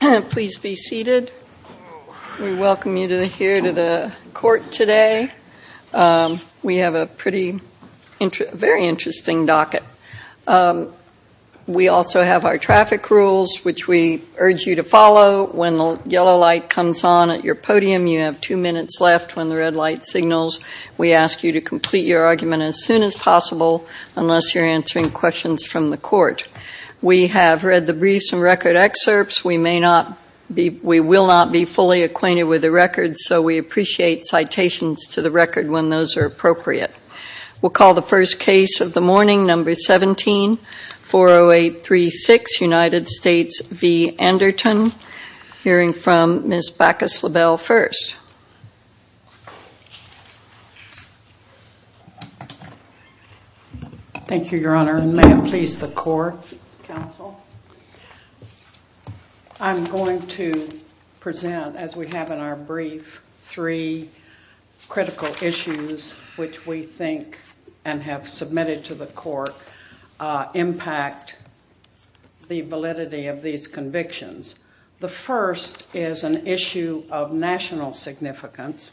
Please be seated. We welcome you here to the court today. We have a very interesting docket. We also have our traffic rules, which we urge you to follow. When the yellow light comes on at your podium, you have two minutes left. When the red light signals, we ask you to complete your argument as soon as possible, unless you're answering questions from the We will not be fully acquainted with the records, so we appreciate citations to the record when those are appropriate. We'll call the first case of the morning, number 17, 40836, United States v. Anderton, hearing from Ms. Bacchus-Labelle first. Thank you, Your Honor. And may it please the court, counsel. I'm going to present, as we have in our brief, three critical issues which we think and have submitted to the court impact the validity of these convictions. The first is an issue of national significance.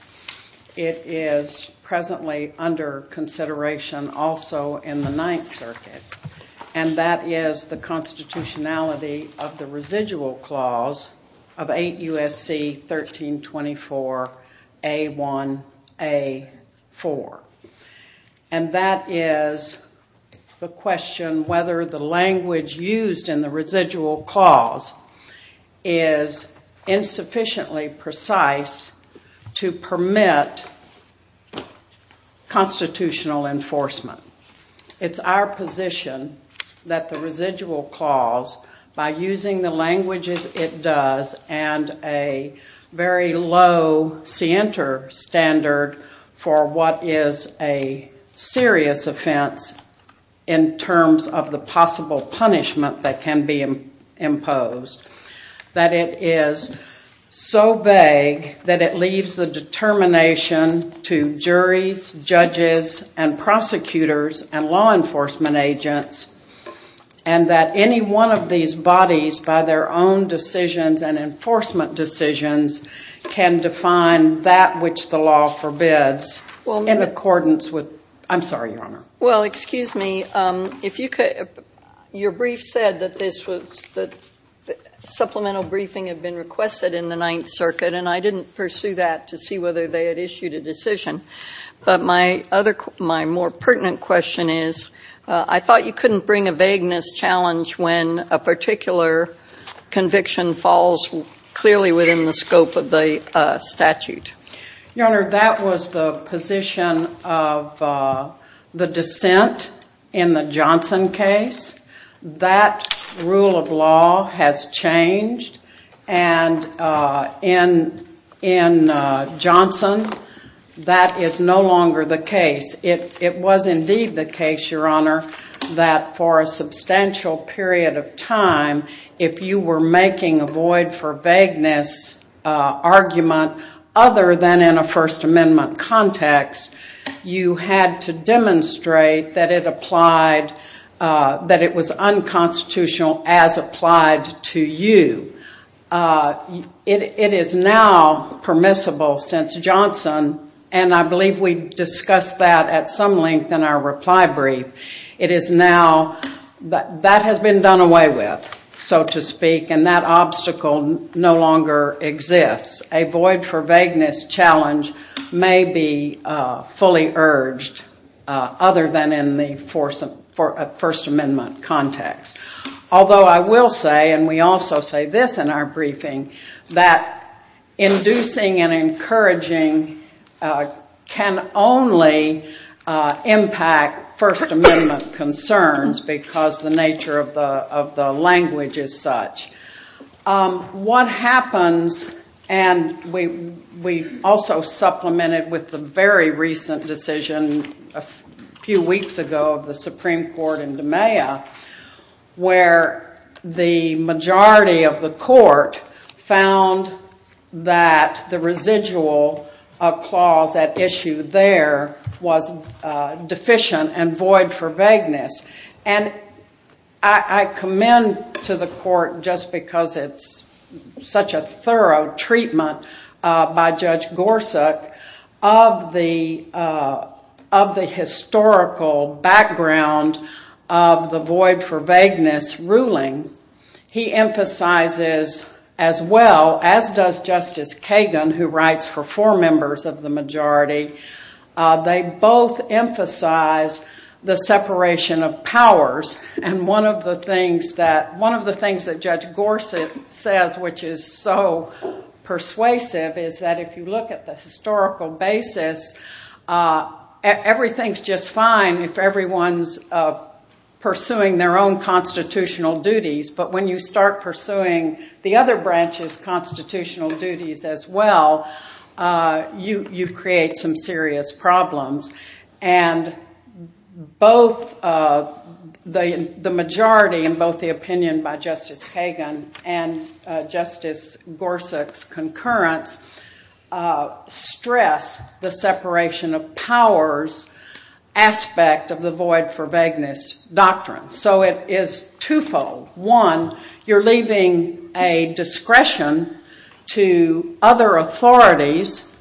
It is presently under consideration also in the Ninth Circuit, and that is the constitutionality of the residual clause of 8 U.S.C. 1324 A.1.A.4. And that is the question whether the language used in the residual clause is insufficiently precise to permit constitutional enforcement. It's our position that the residual clause, by using the languages it does and a very low scienter standard for what is a serious offense in terms of the possible punishment that can be imposed, that it is so vague that it leaves the determination to juries, judges, and prosecutors, and law enforcement agents, and that any one of these bodies, by their own decisions and enforcement decisions, can define that which the law forbids in accordance with... I'm sorry, Your Honor. Well, excuse me. Your brief said that supplemental briefing had been requested in the Ninth Circuit, and I didn't pursue that to see whether they had issued a decision. But my more pertinent question is, I thought you couldn't bring a vagueness challenge when a particular conviction falls clearly within the scope of the statute. Your Honor, that was the position of the dissent in the Johnson case. That rule of law has changed, and in Johnson, that is no longer the case. It was indeed the case, Your Honor, that for a substantial period of time, if you were making a void for vagueness argument other than in a First Amendment context, you had to demonstrate that it applied, that it was unconstitutional as applied to you. It is now permissible since Johnson, and I believe we discussed that at some length in our reply brief, it is now... That has been done away with, so to speak, and that obstacle no longer exists. A void for vagueness challenge may be fully urged other than in the First Amendment context. Although I will say, and we also say this in our briefing, that inducing and encouraging can only impact First Amendment concerns because the nature of the language is such. What happens, and we also supplemented with the very recent decision a few weeks ago of the Supreme Court in Demeya, where the majority of the court found that the residual clause at issue there was deficient and void for vagueness. And I commend to the court, just because it's such a thorough treatment by Judge Gorsuch, of the historical background of the void for vagueness ruling. He emphasizes as well, as does Justice Kagan, who writes for four members of the majority, they both emphasize the separation of powers. And one of the things that Judge Gorsuch says, which is so persuasive, is that if you look at the historical basis, everything's just fine if everyone's pursuing their own constitutional duties. But when you start pursuing the other branch's constitutional duties as well, you create some serious problems. And both the and Justice Gorsuch's concurrence stress the separation of powers aspect of the void for vagueness doctrine. So it is twofold. One, you're leaving a discretion to other authorities,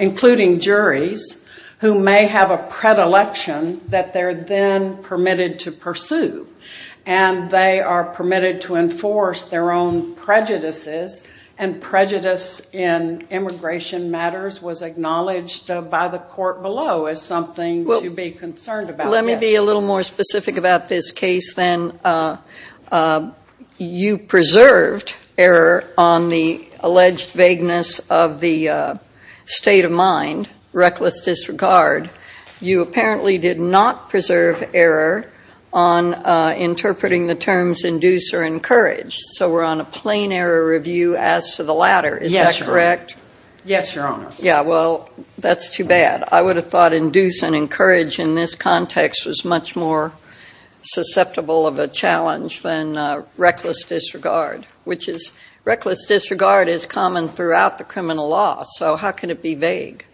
including juries, who may have a predilection that they're then permitted to pursue. And they are permitted to enforce their own prejudices. And prejudice in immigration matters was acknowledged by the court below as something to be concerned about. Well, let me be a little more specific about this case then. You preserved error on the alleged vagueness of the state of mind, reckless disregard. You apparently did not preserve error on interpreting the terms induce or encourage. So we're on a plain error review as to the latter. Is that correct? Yes, Your Honor. Yeah, well, that's too bad. I would have thought induce and encourage in this context was much more susceptible of a challenge than reckless disregard, which is, reckless disregard is common throughout the criminal law. So how can it be vague?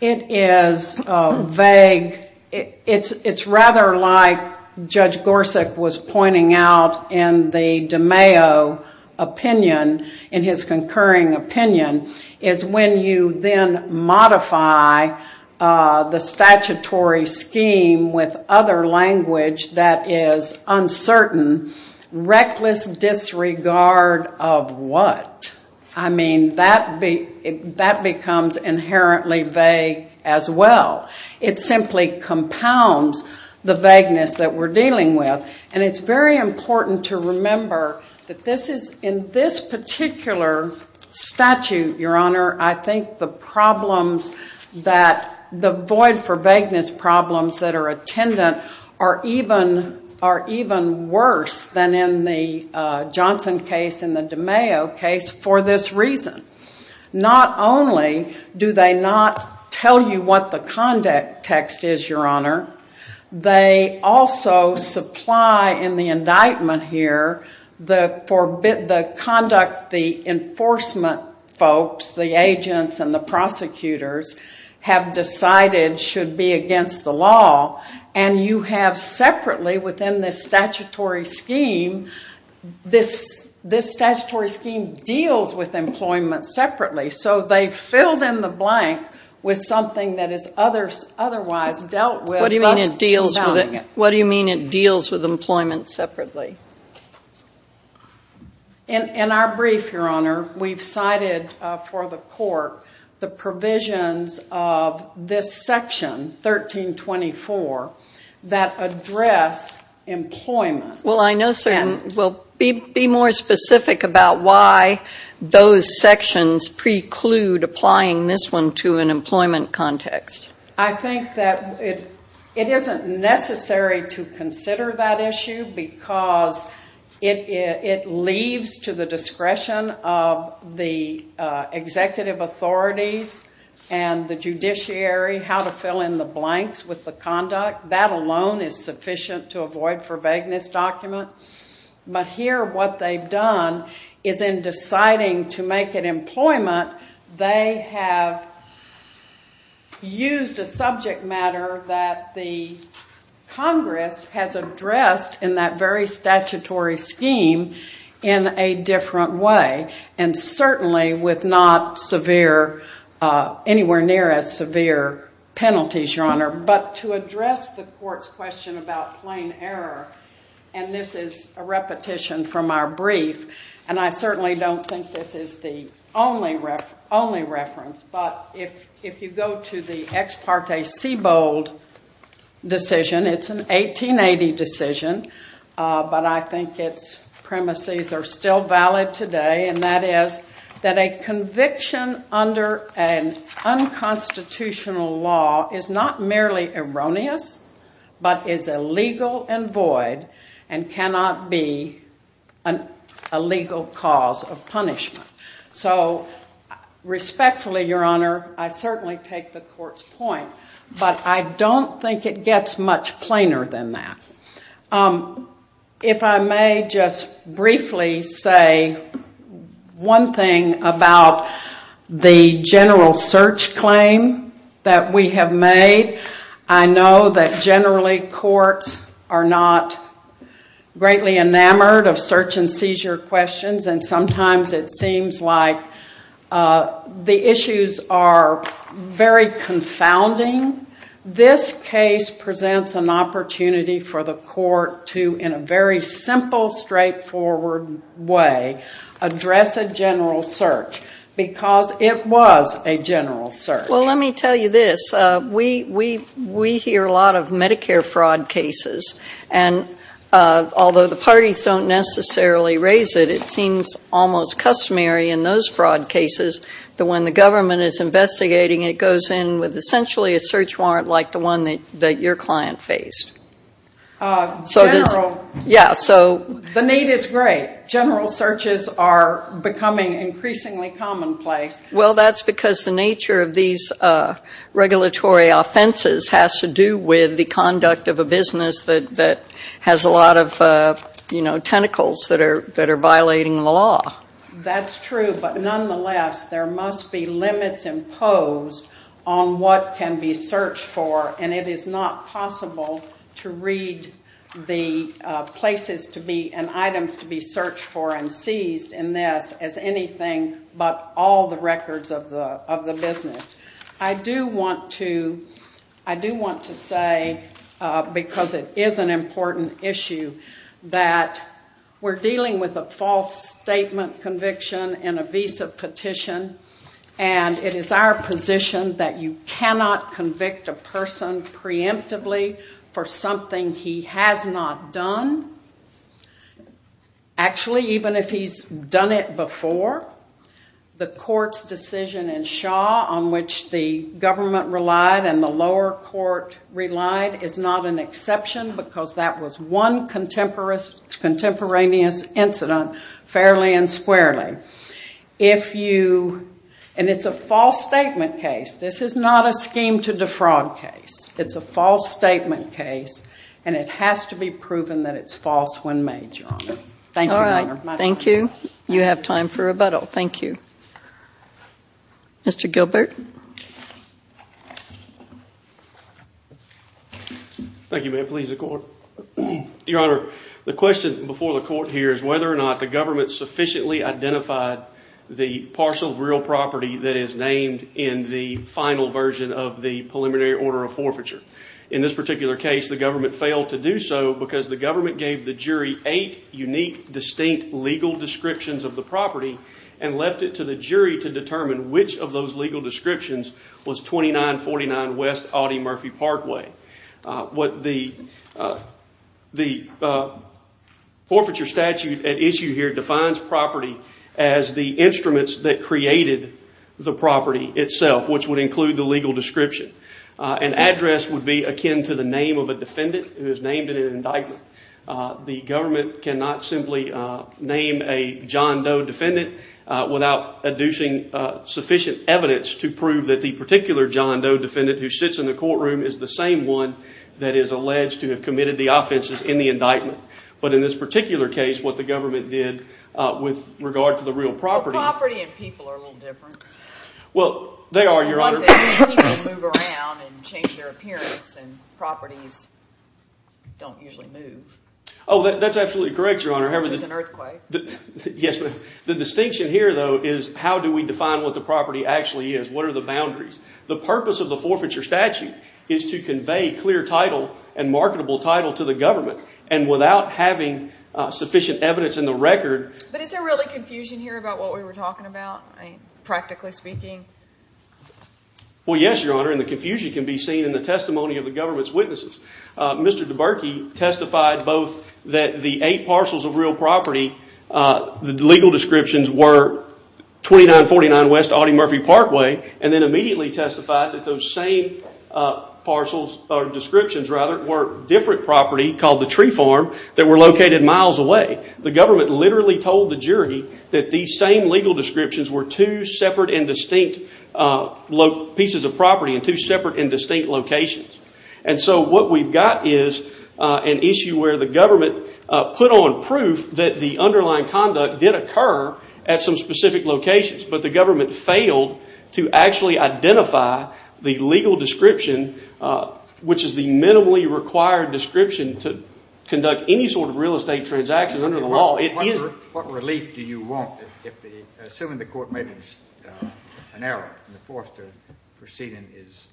It is vague. It's rather like Judge Gorsuch was pointing out in the de Mayo opinion, in his concurring opinion, is when you then modify the statutory scheme with other language that is uncertain, reckless disregard of what? I mean, that becomes inherently vague as well. It simply compounds the vagueness that we're dealing with. And it's very important to remember that this is, in this particular statute, Your Honor, I think the problems that, the are even worse than in the Johnson case and the de Mayo case for this reason. Not only do they not tell you what the conduct text is, Your Honor, they also supply in the indictment here, the conduct, the enforcement folks, the agents and the prosecutors have decided should be against the law. And you have separately within this statutory scheme, this statutory scheme deals with employment separately. So they've filled in the blank with something that is otherwise dealt with. What do you mean it deals with it? What do you mean it deals with employment separately? In our brief, Your Honor, we've cited for the court the section 1324 that address employment. Well, I know, sir, and we'll be more specific about why those sections preclude applying this one to an employment context. I think that it isn't necessary to consider that issue because it leaves to the discretion of the court how to fill in the blanks with the conduct. That alone is sufficient to avoid for vagueness document. But here what they've done is in deciding to make an employment, they have used a subject matter that the Congress has addressed in that very statutory scheme in a different way. And certainly with not severe, anywhere near as severe penalties, Your Honor. But to address the court's question about plain error, and this is a repetition from our brief, and I certainly don't think this is the only reference, but if you go to the Ex Parte Siebold decision, it's an 1880 decision, but I think its premises are still valid today, and that is that a conviction under an unconstitutional law is not merely erroneous but is illegal and void and cannot be a legal cause of punishment. So respectfully, Your Honor, I certainly take the court's point, but I don't think it gets much plainer than that. If I may just briefly say one thing about the general search claim that we have made, I know that generally courts are not greatly enamored of search and seizure questions and sometimes it seems like the issues are very confounding. This case presents an opportunity for the court to, in a very simple, straightforward way, address a general search because it was a general search. Well, let me tell you this. We hear a lot of Medicare fraud cases, and although the parties don't necessarily raise it, it seems almost customary in those fraud cases that when the government is investigating, it goes in with essentially a search warrant like the one that your client faced. The need is great. General searches are becoming increasingly commonplace. Well, that's because the nature of these regulatory offenses has to do with the conduct of a business that has a lot of, you know, tentacles that are violating the law. That's true, but nonetheless, there must be limits imposed on what can be searched for and it is not possible to read the places to be and items to be searched for and seized in this as anything but all the records of the business. I do want to say, because it is an important issue, that we're dealing with a false statement conviction in a visa petition and it is our position that you cannot convict a person preemptively for something he has not done. Actually, even if he's done it before, the court's decision in Shaw on which the government relied and the lower court relied is not an exception because that was one contemporaneous incident fairly and squarely. If you, and it's a false statement case, this is not a scheme to defraud case. It's a false statement case and it has to be proven that it's false when made, Your Honor. Thank you, Your Honor. Thank you. You have time for rebuttal. Thank you. Mr. Gilbert. Thank you, ma'am. Please, the court. Your Honor, the question before the court here is whether or not the government sufficiently identified the parcel of real property that is named in the final version of the preliminary order of forfeiture. In this particular case, the government failed to do so because the government gave the jury eight unique, distinct legal descriptions of the property and left it to the jury to determine which of those legal descriptions was 2949 West Audie Murphy Parkway. The forfeiture statute at issue here the instruments that created the property itself, which would include the legal description. An address would be akin to the name of a defendant who is named in an indictment. The government cannot simply name a John Doe defendant without adducing sufficient evidence to prove that the particular John Doe defendant who sits in the courtroom is the same one that is alleged to have committed the offenses in the indictment. But in this particular case, what the government did with regard to the real property. Property and people are a little different. Well, they are, Your Honor. People move around and change their appearance and properties don't usually move. Oh, that's absolutely correct, Your Honor. Unless it's an earthquake. Yes, ma'am. The distinction here, though, is how do we define what the property actually is? What are the boundaries? The purpose of the forfeiture statute is to convey clear title and marketable title to the government and without having sufficient evidence in the record. But is there really confusion here about what we were talking about, practically speaking? Well, yes, Your Honor, and the confusion can be seen in the testimony of the government's witnesses. Mr. DeBerke testified both that the eight parcels of real property, the legal descriptions were 2949 West Audie Murphy Parkway, and then immediately testified that those same parcels, or descriptions rather, were different property called the tree farm that were located miles away. The government literally told the jury that these same legal descriptions were two separate and distinct pieces of property in two separate and distinct locations. And so what we've got is an issue where the government put on proof that the underlying conduct did occur at some specific locations, but the entire description to conduct any sort of real estate transaction under the law, it isn't. What relief do you want? Assuming the court made an error and the forfeiture proceeding is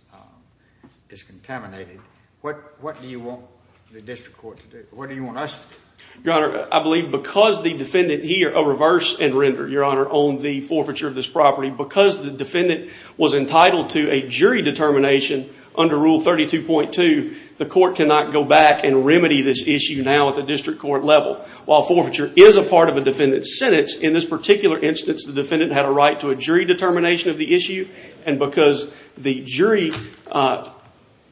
contaminated, what do you want the district court to do? What do you want us to do? Your Honor, I believe because the defendant here, a reverse and render, Your Honor, on the forfeiture of this property, because the defendant was entitled to a jury determination under Rule 32.2, the court cannot go back and remedy this issue now at the district court level. While forfeiture is a part of a defendant's sentence, in this particular instance the defendant had a right to a jury determination of the issue, and because the jury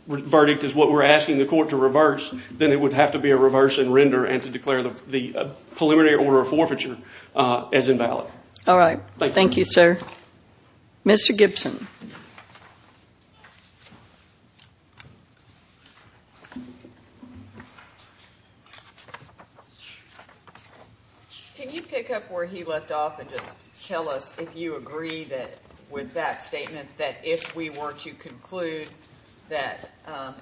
verdict is what we're asking the court to reverse, then it would have to be a reverse and render and to declare the preliminary order of forfeiture as invalid. All right. Thank you, sir. Mr. Gibson. Can you pick up where he left off and just tell us if you agree with that statement that if we were to conclude that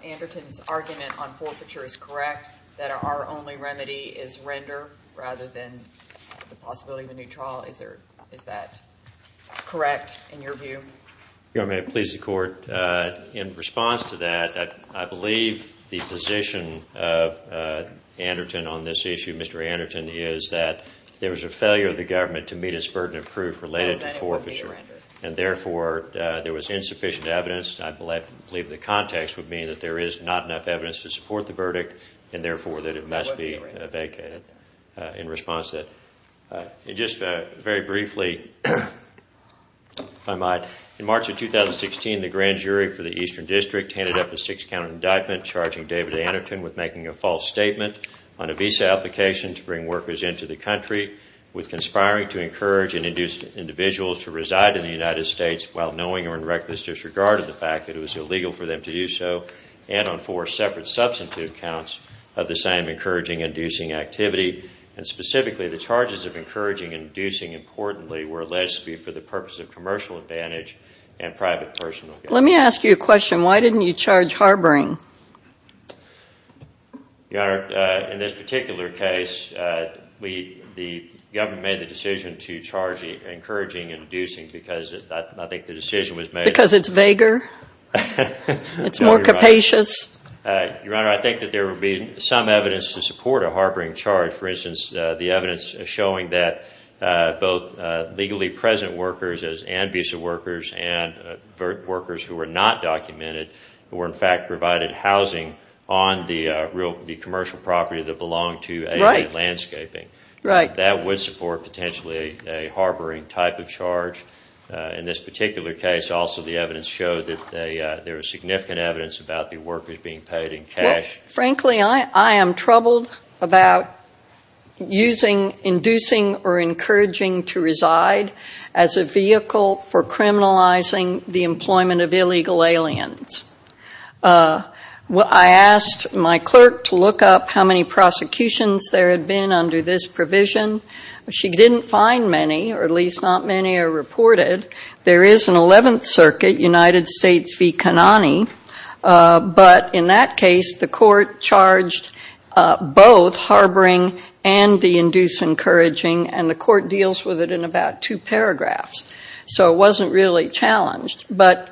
Anderton's argument on forfeiture is correct, that our only remedy is render rather than the possibility of a new trial? Is that correct in your view? Your Honor, may it please the court, in response to that, I believe the position of Anderton on this issue, Mr. Anderton, is that there was a failure of the government to meet its burden of proof related to forfeiture, and therefore there was insufficient evidence. I believe the context would mean that there is not enough evidence to support the verdict and therefore that it must be vacated in response to it. Just very briefly, if I might, in March of 2016, the grand jury for the Eastern District handed up a six-count indictment charging David Anderton with making a false statement on a visa application to bring workers into the country, with conspiring to encourage and induce individuals to reside in the United States while knowing or in reckless disregard of the fact that it was illegal for them to do so, and on four separate substitute counts of the same encouraging-inducing activity. And specifically, the charges of encouraging and inducing, importantly, were alleged to be for the purpose of commercial advantage and private personal gain. Let me ask you a question. Why didn't you charge harboring? Your Honor, in this particular case, the government made the decision to charge encouraging and inducing because I think the decision was made Because it's vaguer? It's more capacious? Your Honor, I think that there would be some evidence to support a harboring charge. For instance, the evidence showing that both legally present workers and visa workers and workers who are not documented were in fact provided housing on the commercial property that belonged to AA landscaping. That would support potentially a harboring type of charge. In this particular case, also the evidence showed that there was significant evidence about the workers being paid in cash. Frankly, I am troubled about using inducing or encouraging to reside as a vehicle for criminalizing the employment of illegal aliens. I asked my clerk to look up how many prosecutions there had been under this provision. She didn't find many, or at least not many are reported. There is an 11th Circuit, United States v. Kanani. But in that case, the court charged both harboring and the induce encouraging and the court deals with it in about two paragraphs. So it wasn't really challenged. But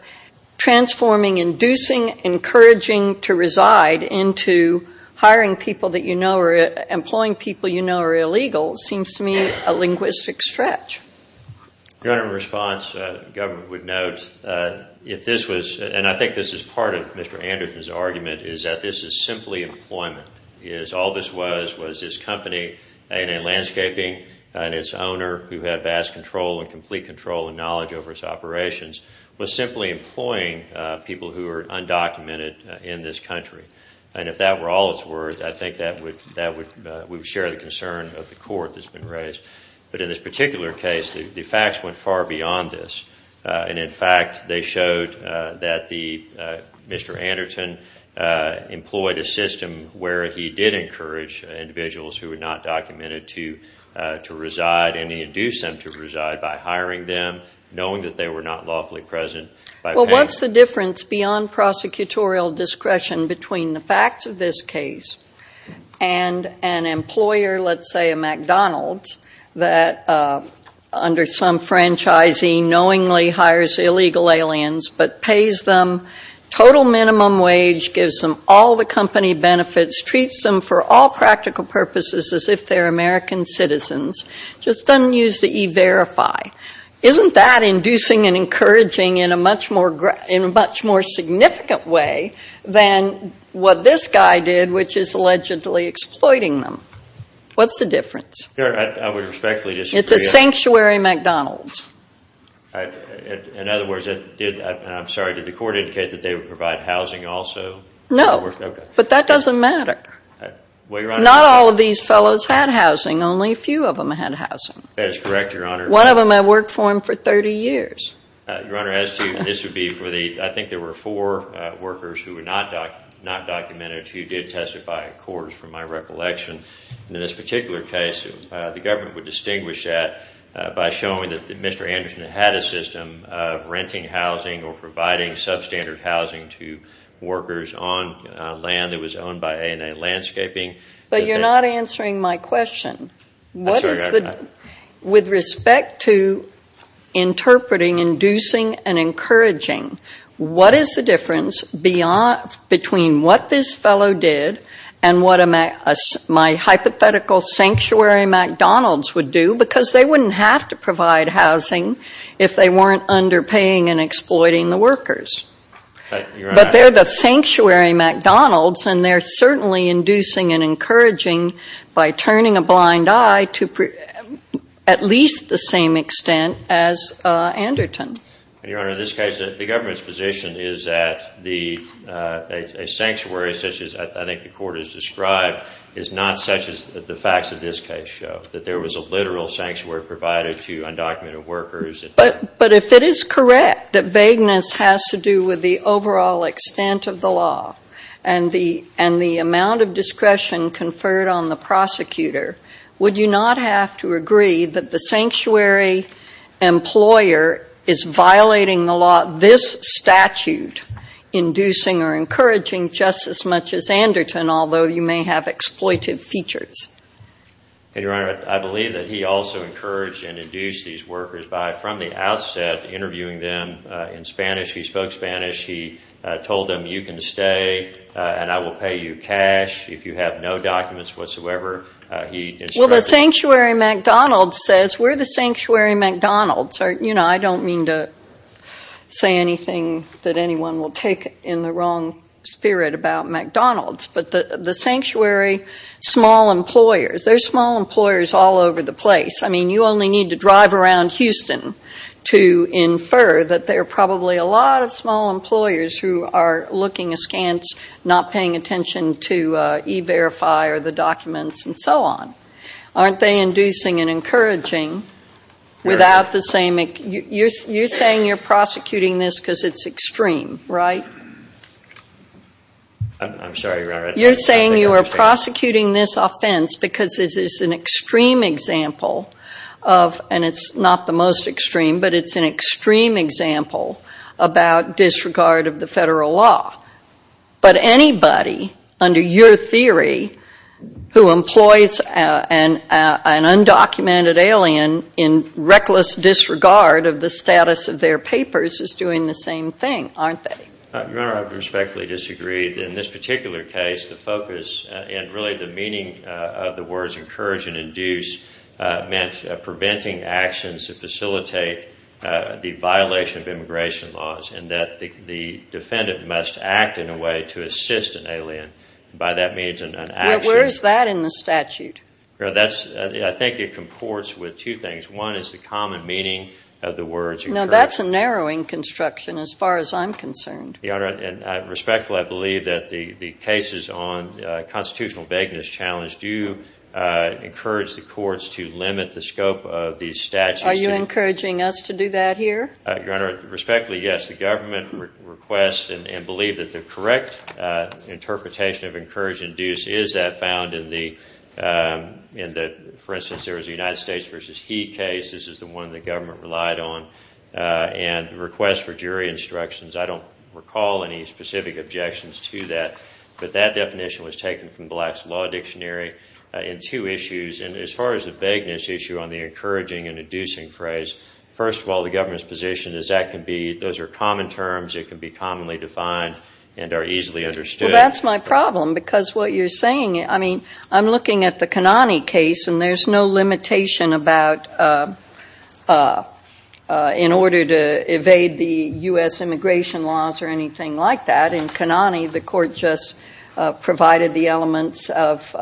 transforming, inducing, encouraging to reside into hiring people that you know or employing people you know are illegal seems to me a linguistic stretch. Your Honor, in response, the government would note, if this was, and I think this is part of Mr. Anderson's argument, is that this is simply employment. All this was, was this company, AA Landscaping, and its owner, who had vast control and complete control and knowledge over its operations, was simply employing people who were undocumented in this country. And if that were all it's worth, I think that would, we would share the concern of the court that's been raised. But in this particular case, the facts went far beyond this. And in fact, they showed that the, Mr. Anderton employed a system where he did encourage individuals who were not documented to reside and he induced them to reside by hiring them, knowing that they were not lawfully present, by paying them. Well, what's the difference beyond prosecutorial discretion between the facts of this case and an employer, let's say a McDonald's, that under some franchisee knowingly hires illegal aliens but pays them total minimum wage, gives them all the company benefits, treats them for all practical purposes as if they're American citizens, just doesn't use the E-Verify. Isn't that inducing and encouraging in a much more, in a much more significant way than what this guy did, which is allegedly exploiting them? What's the difference? Your Honor, I would respectfully disagree. It's a sanctuary McDonald's. In other words, did, I'm sorry, did the court indicate that they would provide housing also? No. But that doesn't matter. Well, Your Honor. Not all of these fellows had housing. Only a few of them had housing. That is correct, Your Honor. One of them had worked for him for 30 years. Your Honor, as to, this would be for the, I think there were four workers who were not documented who did testify at courts, from my recollection. In this particular case, the government would distinguish that by showing that Mr. Anderson had a system of renting housing or providing substandard housing to workers on land that was owned by ANA Landscaping. But you're not answering my question. I'm sorry, Your Honor. With respect to interpreting, inducing, and encouraging, what is the difference between what this fellow did and what my hypothetical sanctuary McDonald's would do? Because they wouldn't have to provide housing if they weren't underpaying and exploiting the workers. But they're the sanctuary McDonald's and they're certainly inducing and encouraging by turning a blind eye to at least the same extent as Anderton. Your Honor, in this case, the government's position is that a sanctuary, such as I think the court has described, is not such as the facts of this case show, that there was a literal sanctuary provided to undocumented workers. But if it is correct that vagueness has to do with the overall extent of the law and the amount of discretion conferred on the prosecutor, would you not have to agree that the sanctuary employer is violating the law, this statute, inducing or encouraging just as much as Anderton, although you may have exploitive features? Your Honor, I believe that he also encouraged and induced these workers by, from the outset, interviewing them in Spanish. He spoke Spanish. He told them, you can stay and I will pay you cash if you have no documents whatsoever. Well, the sanctuary McDonald's says we're the sanctuary McDonald's. I don't mean to say anything that anyone will take in the wrong spirit about McDonald's, but the sanctuary small employers, there's small employers all over the place. I mean, you only need to drive around Houston to infer that there are probably a lot of small employers who are looking askance, not paying attention to E-Verify or the documents and so on. Aren't they inducing and encouraging without the same, you're saying you're prosecuting this because it's extreme, right? I'm sorry, Your Honor. You're saying you are prosecuting this offense because it is an extreme example of, and it's not the most extreme, but it's an extreme example about disregard of the federal law. But anybody, under your theory, who employs an undocumented alien in reckless disregard of the status of their papers is doing the same thing, aren't they? Your Honor, I respectfully disagree. In this particular case, the focus and really the meaning of the words encourage and induce meant preventing actions that facilitate the violation of immigration laws and that the defendant must act in a way to assist an alien. By that means an action. Where is that in the statute? I think it comports with two things. One is the common meaning of the words encourage and induce. That's a narrowing construction as far as I'm concerned. Your Honor, and I respectfully believe that the cases on constitutional vagueness challenge do encourage the courts to limit the scope of these statutes. Are you encouraging us to do that here? Your Honor, respectfully, yes. The government requests and believes that the correct interpretation of encourage and induce is that found in the, for instance, there was a United States v. Heath case. This is the one the government relied on. And the request for jury instructions, I don't recall any specific objections to that. But that definition was taken from the last law dictionary in two issues. And as far as the vagueness issue on the encouraging and inducing phrase, first of all, the government's position is that can be, those are common terms. It can be commonly defined and are easily understood. That's my problem because what you're saying, I mean, I'm looking at the Kanani case and there's no limitation about, in order to evade the U.S. immigration laws or anything like that. In Kanani, the court just provided the elements of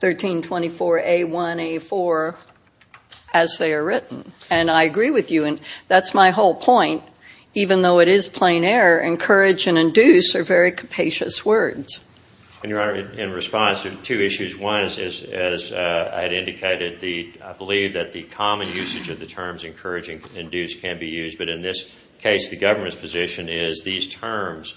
1324A1A4 as they are written. And I agree with you. And that's my whole point. Even though it is plain error, encourage and induce are very capacious words. And, Your Honor, in response to two issues, one is, as I had indicated, the, I believe that the common usage of the terms encouraging and induce can be used. But in this case, the government's position is these terms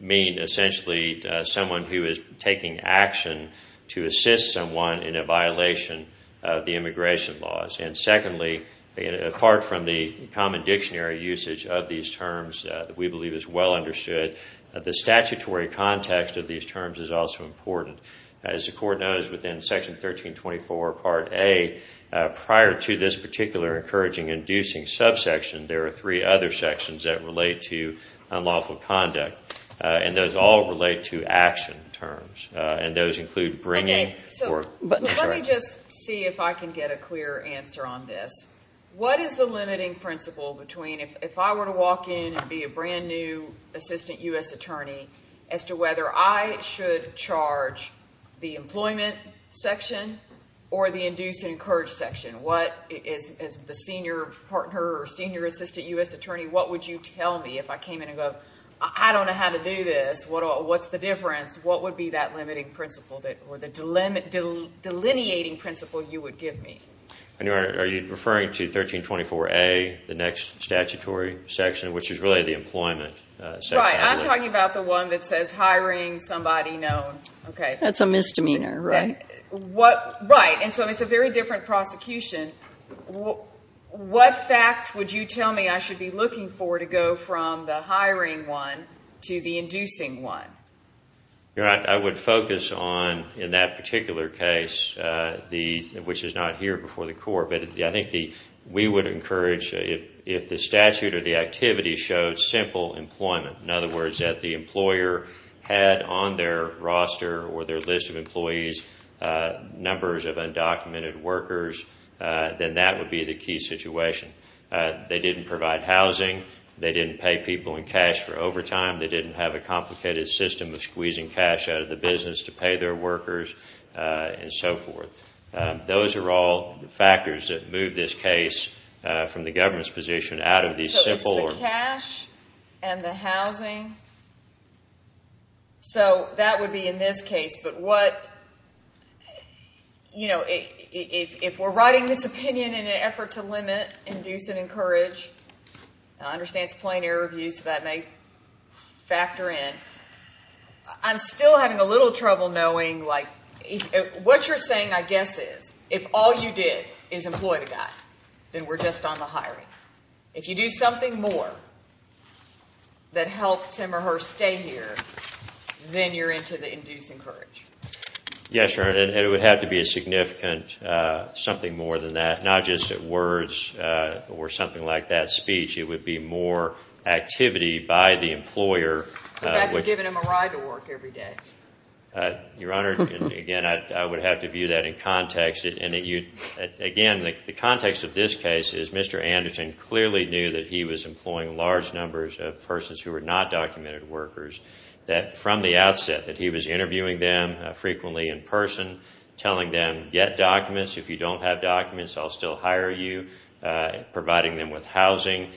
mean essentially someone who is taking action to assist someone in a violation of the immigration laws. And secondly, apart from the common dictionary usage of these terms that we believe is well understood, the context of these terms is also important. As the Court knows, within Section 1324 Part A, prior to this particular encouraging and inducing subsection, there are three other sections that relate to unlawful conduct. And those all relate to action terms. And those include bringing or... Okay. So let me just see if I can get a clear answer on this. What is the limiting principle between, if I were to walk in and be a brand new assistant U.S. attorney, as to whether I should charge the employment section or the induce and encourage section? What is the senior partner or senior assistant U.S. attorney, what would you tell me if I came in and go, I don't know how to do this. What's the difference? What would be that limiting principle or the delineating principle you would give me? Are you referring to 1324 A, the next statutory section, which is really the employment section? Right. I'm talking about the one that says hiring somebody known. That's a misdemeanor, right? Right. And so it's a very different prosecution. What facts would you tell me I should be looking for to go from the hiring one to the inducing one? I would focus on, in that particular case, which is not here before the court, but I think we would encourage, if the statute or the activity showed simple employment, in other words, that the employer had on their roster or their list of employees numbers of undocumented workers, then that would be the key situation. They didn't provide housing. They didn't pay people in cash for overtime. They didn't have a complicated system of squeezing cash out of the business to pay their workers, and so forth. Those are all factors that move this case from the government's position out of these simple... So it's the cash and the housing? So that would be in this case, but what, you know, if we're writing this opinion in an effort to limit, induce, and encourage, and I understand it's plain error of use, so that may factor in. I'm still having a little trouble knowing, like, what you're saying, I guess, is if all you did is employ the guy, then we're just on the hiring. If you do something more that helps him or her stay here, then you're into the induce and encourage. Yes, Your Honor, and it would have to be a significant, something more than that, not just at words or something like that speech. It would be more activity by the employer... You'd have to have given him a ride to work every day. Your Honor, again, I would have to view that in context, and again, the context of this case is Mr. Anderton clearly knew that he was employing large numbers of persons who were not documented workers, that from the outset, that he was interviewing them frequently in person, telling them, get documents. If you don't have documents, I'll still hire you, providing them with housing,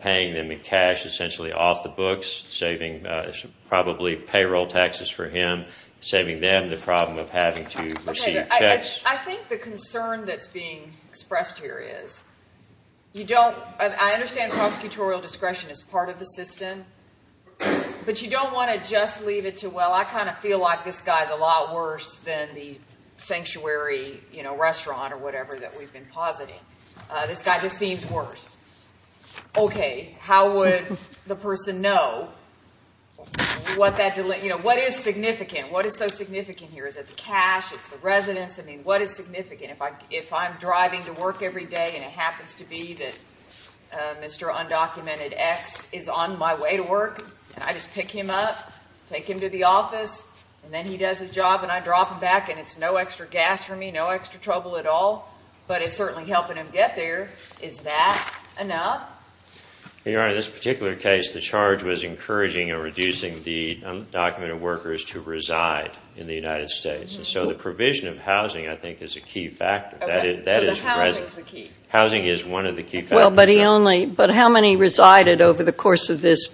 paying them in cash, essentially off the books, saving probably payroll taxes for him, saving them the problem of having to receive checks. I think the concern that's being expressed here is, you don't, I understand prosecutorial discretion is part of the system, but you don't want to just leave it to, well, I kind of feel like this guy's a lot worse than the sanctuary restaurant or whatever that we've been positing. This guy just seems worse. Okay, how would the person know what that delays? What is significant? What is so significant here? Is it the cash? Is it the residents? What is significant? If I'm driving to work every day and it happens to be that Mr. Undocumented X is on my way to work, and I just pick him up, take him to the office, and then he does his job and I drop him back and it's no extra gas for me, no extra trouble at all, but it's certainly helping him get there, is that enough? Your Honor, in this particular case, the charge was encouraging or reducing the undocumented workers to reside in the United States, and so the provision of housing, I think, is a key factor. Okay, so the housing is the key. Housing is one of the key factors. Well, but he only, but how many resided over the course of this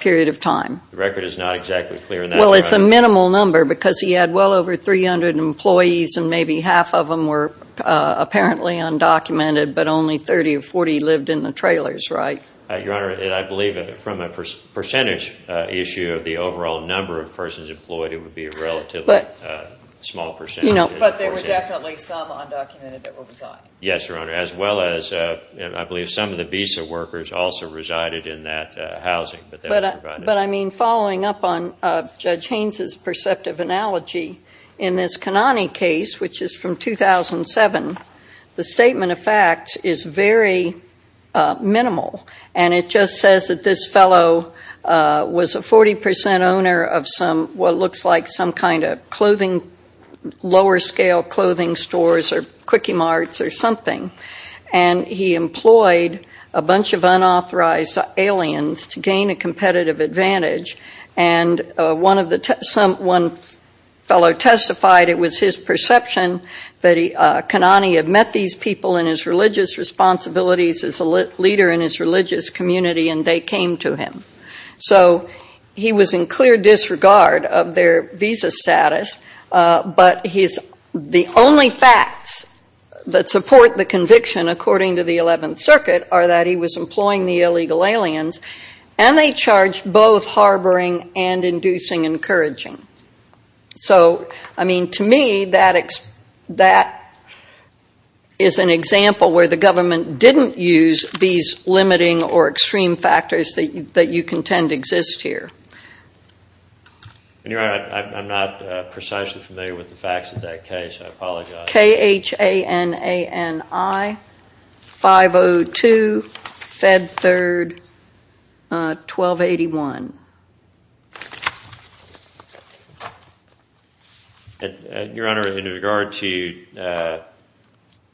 period of time? The record is not exactly clear on that. Well, it's a minimal number because he had well over 300 employees and maybe half of them were apparently undocumented, but only 30 or 40 lived in the trailers, right? Your Honor, and I believe from a percentage issue of the overall number of persons employed, it would be a relatively small percentage. But there were definitely some undocumented that were residing. Yes, Your Honor, as well as I believe some of the visa workers also resided in that housing. But I mean, following up on Judge Haynes' perceptive analogy, in this Kanani case, which is from 2007, the statement of fact is very minimal, and it just says that this fellow was a 40 percent owner of some, what looks like some kind of clothing, lower scale clothing stores or quickie marts or something, and he employed a bunch of unauthorized aliens to gain a competitive advantage, and one fellow testified it was his perception that Kanani had met these people in his religious responsibilities as a leader in his religious community, and they came to him. So he was in clear disregard of their visa status, but the only facts that support the conviction according to the 11th Circuit are that he was employing the illegal aliens, and they charged both harboring and inducing encouraging. So, I mean, to me, that is an interesting analogy that you contend exists here. And, Your Honor, I'm not precisely familiar with the facts of that case. I apologize. K-H-A-N-A-N-I, 502, Fed 3rd, 1281. And, Your Honor, in regard to,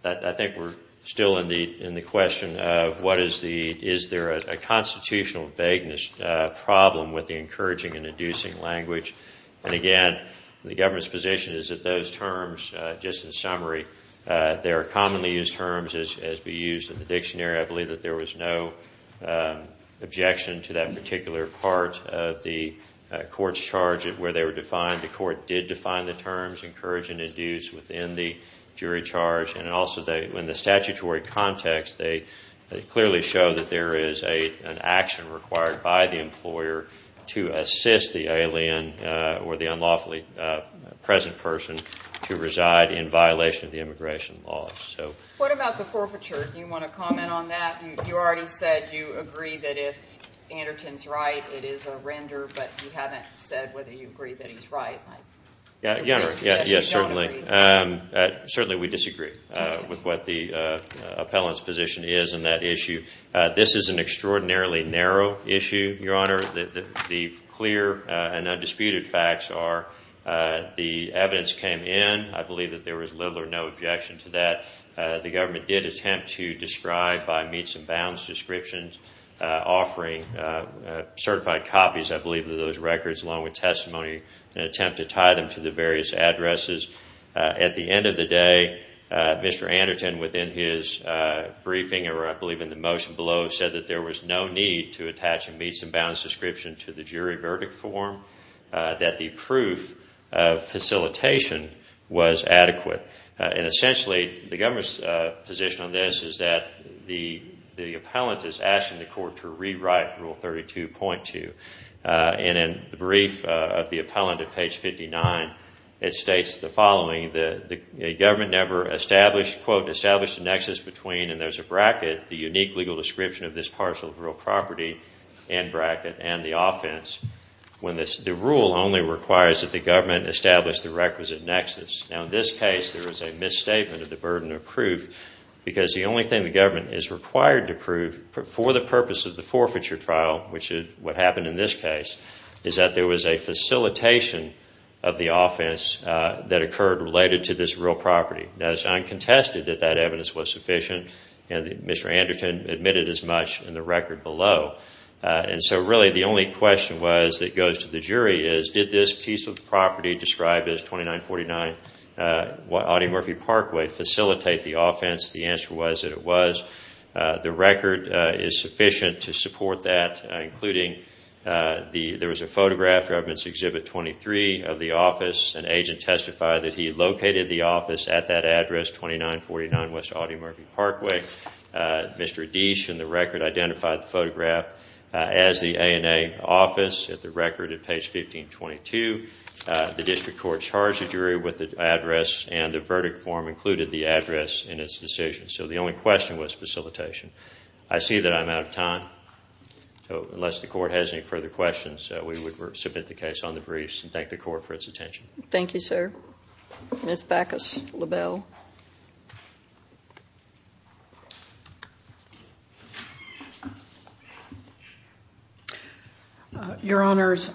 I think we're still in the question of what is the, is there a constitutional vagueness problem with the encouraging and inducing language? And, again, the government's position is that those terms, just in summary, they are commonly used terms as we use in the dictionary. I believe that there was no objection to that particular part of the court's charge of where they were defined. The court did define the terms encourage and induce within the jury charge, and also in the statutory context, they clearly show that there is an action required by the employer to assist the alien or the unlawfully present person to reside in violation of the immigration laws. What about the forfeiture? Do you want to comment on that? You already said you agree that if Anderton's right, it is a render, but you haven't said whether you agree that he's right. Your Honor, yes, certainly. Certainly, we disagree with what the appellant's position is on that issue. This is an extraordinarily narrow issue, Your Honor. The clear and undisputed facts are the evidence came in. I believe that there was little or no objection to that. The government did attempt to describe by meets and bounds descriptions offering certified copies, I believe, of those records along with testimony in an attempt to tie them to the various addresses. At the end of the day, Mr. Anderton, within his briefing, or I believe in the motion below, said that there was no need to attach a meets and bounds description to the jury verdict form, that the proof of facilitation was adequate. Essentially, the government's position on this is that the appellant is asking the court to rewrite Rule 32.2. In the brief of the appellant at page 59, it states the following, that the government never established a nexus between, and there's a bracket, the unique legal description of this parcel of real property, end bracket, and the offense, when the rule only requires that the government establish the requisite nexus. Now, in this case, there is a misstatement of the burden of proof because the only thing the government is required to prove for the purpose of the forfeiture trial, which is what happened in this case, is that there was a facilitation of the offense that occurred related to this real property. Now, it's uncontested that that evidence was sufficient, and Mr. Anderton admitted as much in the record below, and so really the only question that goes to the jury is, did this piece of property described as 2949 Audie Murphy Parkway facilitate the offense? The answer was that it was. The record is sufficient to support that, including there was a photograph for evidence exhibit 23 of the office. An agent testified that he located the office at that address, 2949 West Audie Murphy Parkway. Mr. Adiche, in the record, identified the photograph as the ANA office. At the record at page 1522, the only question was facilitation. I see that I'm out of time, so unless the Court has any further questions, we would submit the case on the briefs and thank the Court for its attention. Thank you, sir. Ms. Backus-LaBelle. Your Honors,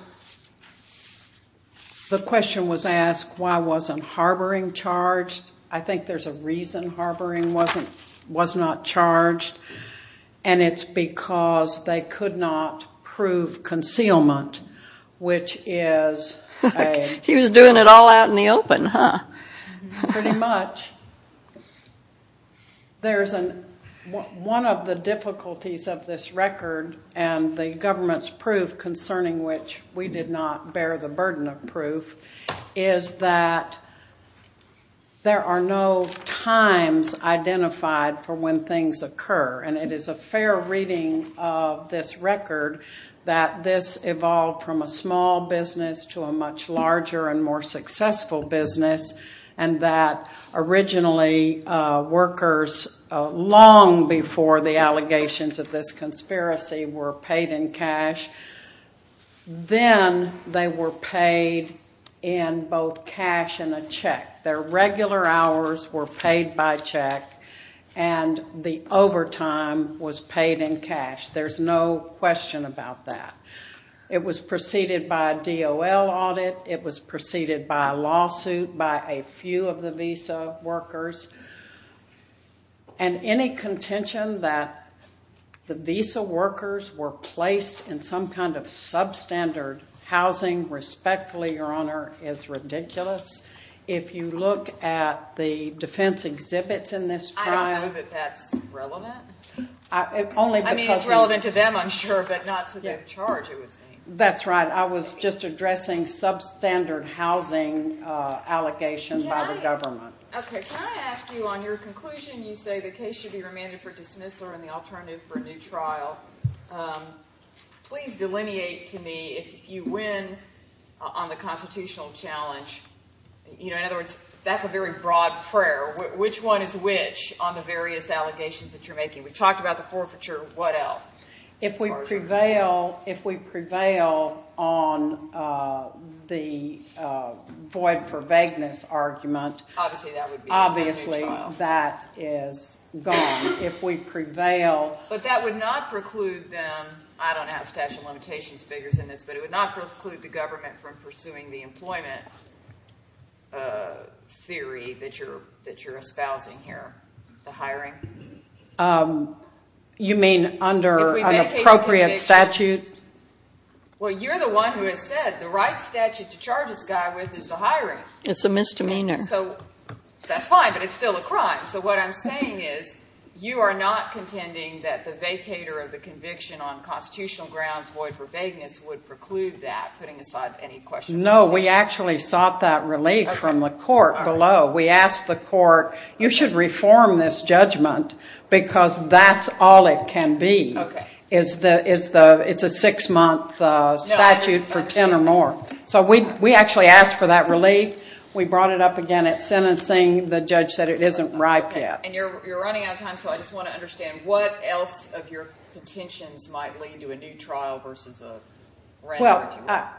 the question was asked, why wasn't harboring charged? I think there's a reason harboring was not charged, and it's because they could not prove concealment, which is a... He was doing it all out in the open, huh? Pretty much. There's a... One of the difficulties of this record and the government's narrative concerning which we did not bear the burden of proof is that there are no times identified for when things occur, and it is a fair reading of this record that this evolved from a small business to a much larger and more successful business, and that originally workers long before the allegations of this conspiracy were paid in cash, were charged then they were paid in both cash and a check. Their regular hours were paid by check, and the overtime was paid in cash. There's no question about that. It was preceded by a DOL audit. It was preceded by a lawsuit by a few of the visa workers, and any contention that the visa workers were placed in some kind of substandard housing, respectfully your honor, is ridiculous. If you look at the defense exhibits in this trial... I don't know that that's relevant. I mean, it's relevant to them, I'm sure, but not to their charge, it would seem. That's right. I was just addressing substandard housing allegations by the government. Okay. Can I ask you on your conclusion, you say the case should be remanded for dismissal and the alternative for a new trial. Please delineate to me if you win on the constitutional challenge. You know, in other words, that's a very broad prayer. Which one is which on the various allegations that you're making? We've talked about the forfeiture. What else? If we prevail on the void for vagueness argument... Obviously that would be a new trial. Obviously that is gone. If we prevail... But that would not preclude them, I don't have statute of limitations figures in this, but it would not preclude the government from pursuing the employment theory that you're espousing here, the hiring. You mean under an appropriate statute? Well, you're the one who has said the right statute to charge this guy with is the hiring. It's a misdemeanor. So that's fine, but it's still a crime. So what I'm saying is, you are not contending that the vacator of the conviction on constitutional grounds void for vagueness would preclude that, putting aside any question... No, we actually sought that relief from the court below. We asked the court, you should reform this judgment because that's all it can be. It's a six-month statute for 10 or more. So we actually asked for that relief. We brought it up again at sentencing. The judge said it isn't ripe yet. And you're running out of time, so I just want to understand what else of your contentions might lead to a new trial versus a random, if you will. Well,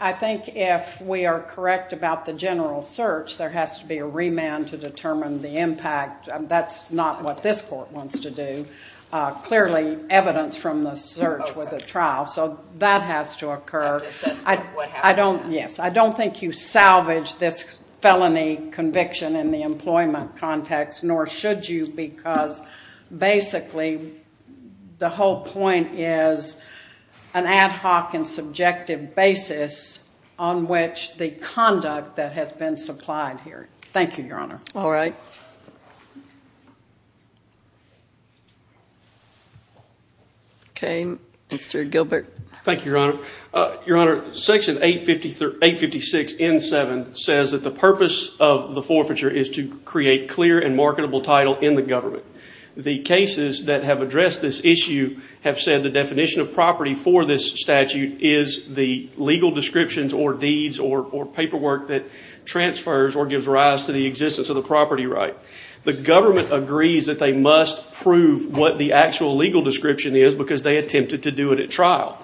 I think if we are correct about the general search, there has to be a remand to determine the impact. That's not what this court wants to do. Clearly, evidence from the search with a trial. So that has to occur. I don't think you salvage this felony conviction in the employment context, nor should you because basically the whole point is an ad hoc and subjective basis on which the conduct that has been supplied here. Thank you, Your Honor. All right. Okay, Mr. Gilbert. Thank you, Your Honor. Your Honor, Section 856 N7 says that the purpose of the forfeiture is to create clear and marketable title in the government. The cases that have addressed this issue have said the definition of property for this statute is the legal descriptions or deeds or paperwork that transfers or gives rise to the existence of the property right. The government agrees that they must prove what the actual legal description is because they attempted to do it at trial.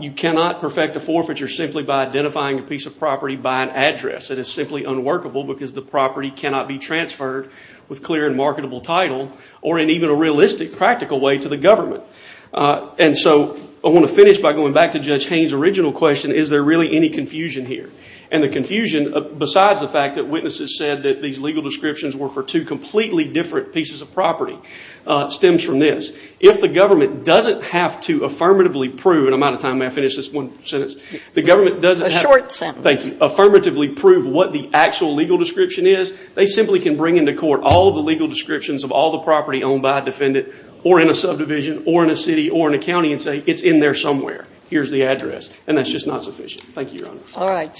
You cannot perfect a forfeiture simply by identifying a piece of property by an address. It is simply unworkable because the property cannot be transferred with clear and marketable title or in even a realistic, practical way to the government. And so I want to finish by going back to Judge Haynes' original question, is there really any confusion here? And the confusion, besides the fact that witnesses said that these legal descriptions were for two completely different pieces of property, stems from this. If the government doesn't have to affirmatively prove what the actual legal description is, they simply can bring into court all the legal descriptions of all the property owned by a defendant or in a subdivision or in a city or in a county and say it's in there somewhere. Here's the address. And that's just not sufficient. Thank you, Your Honor.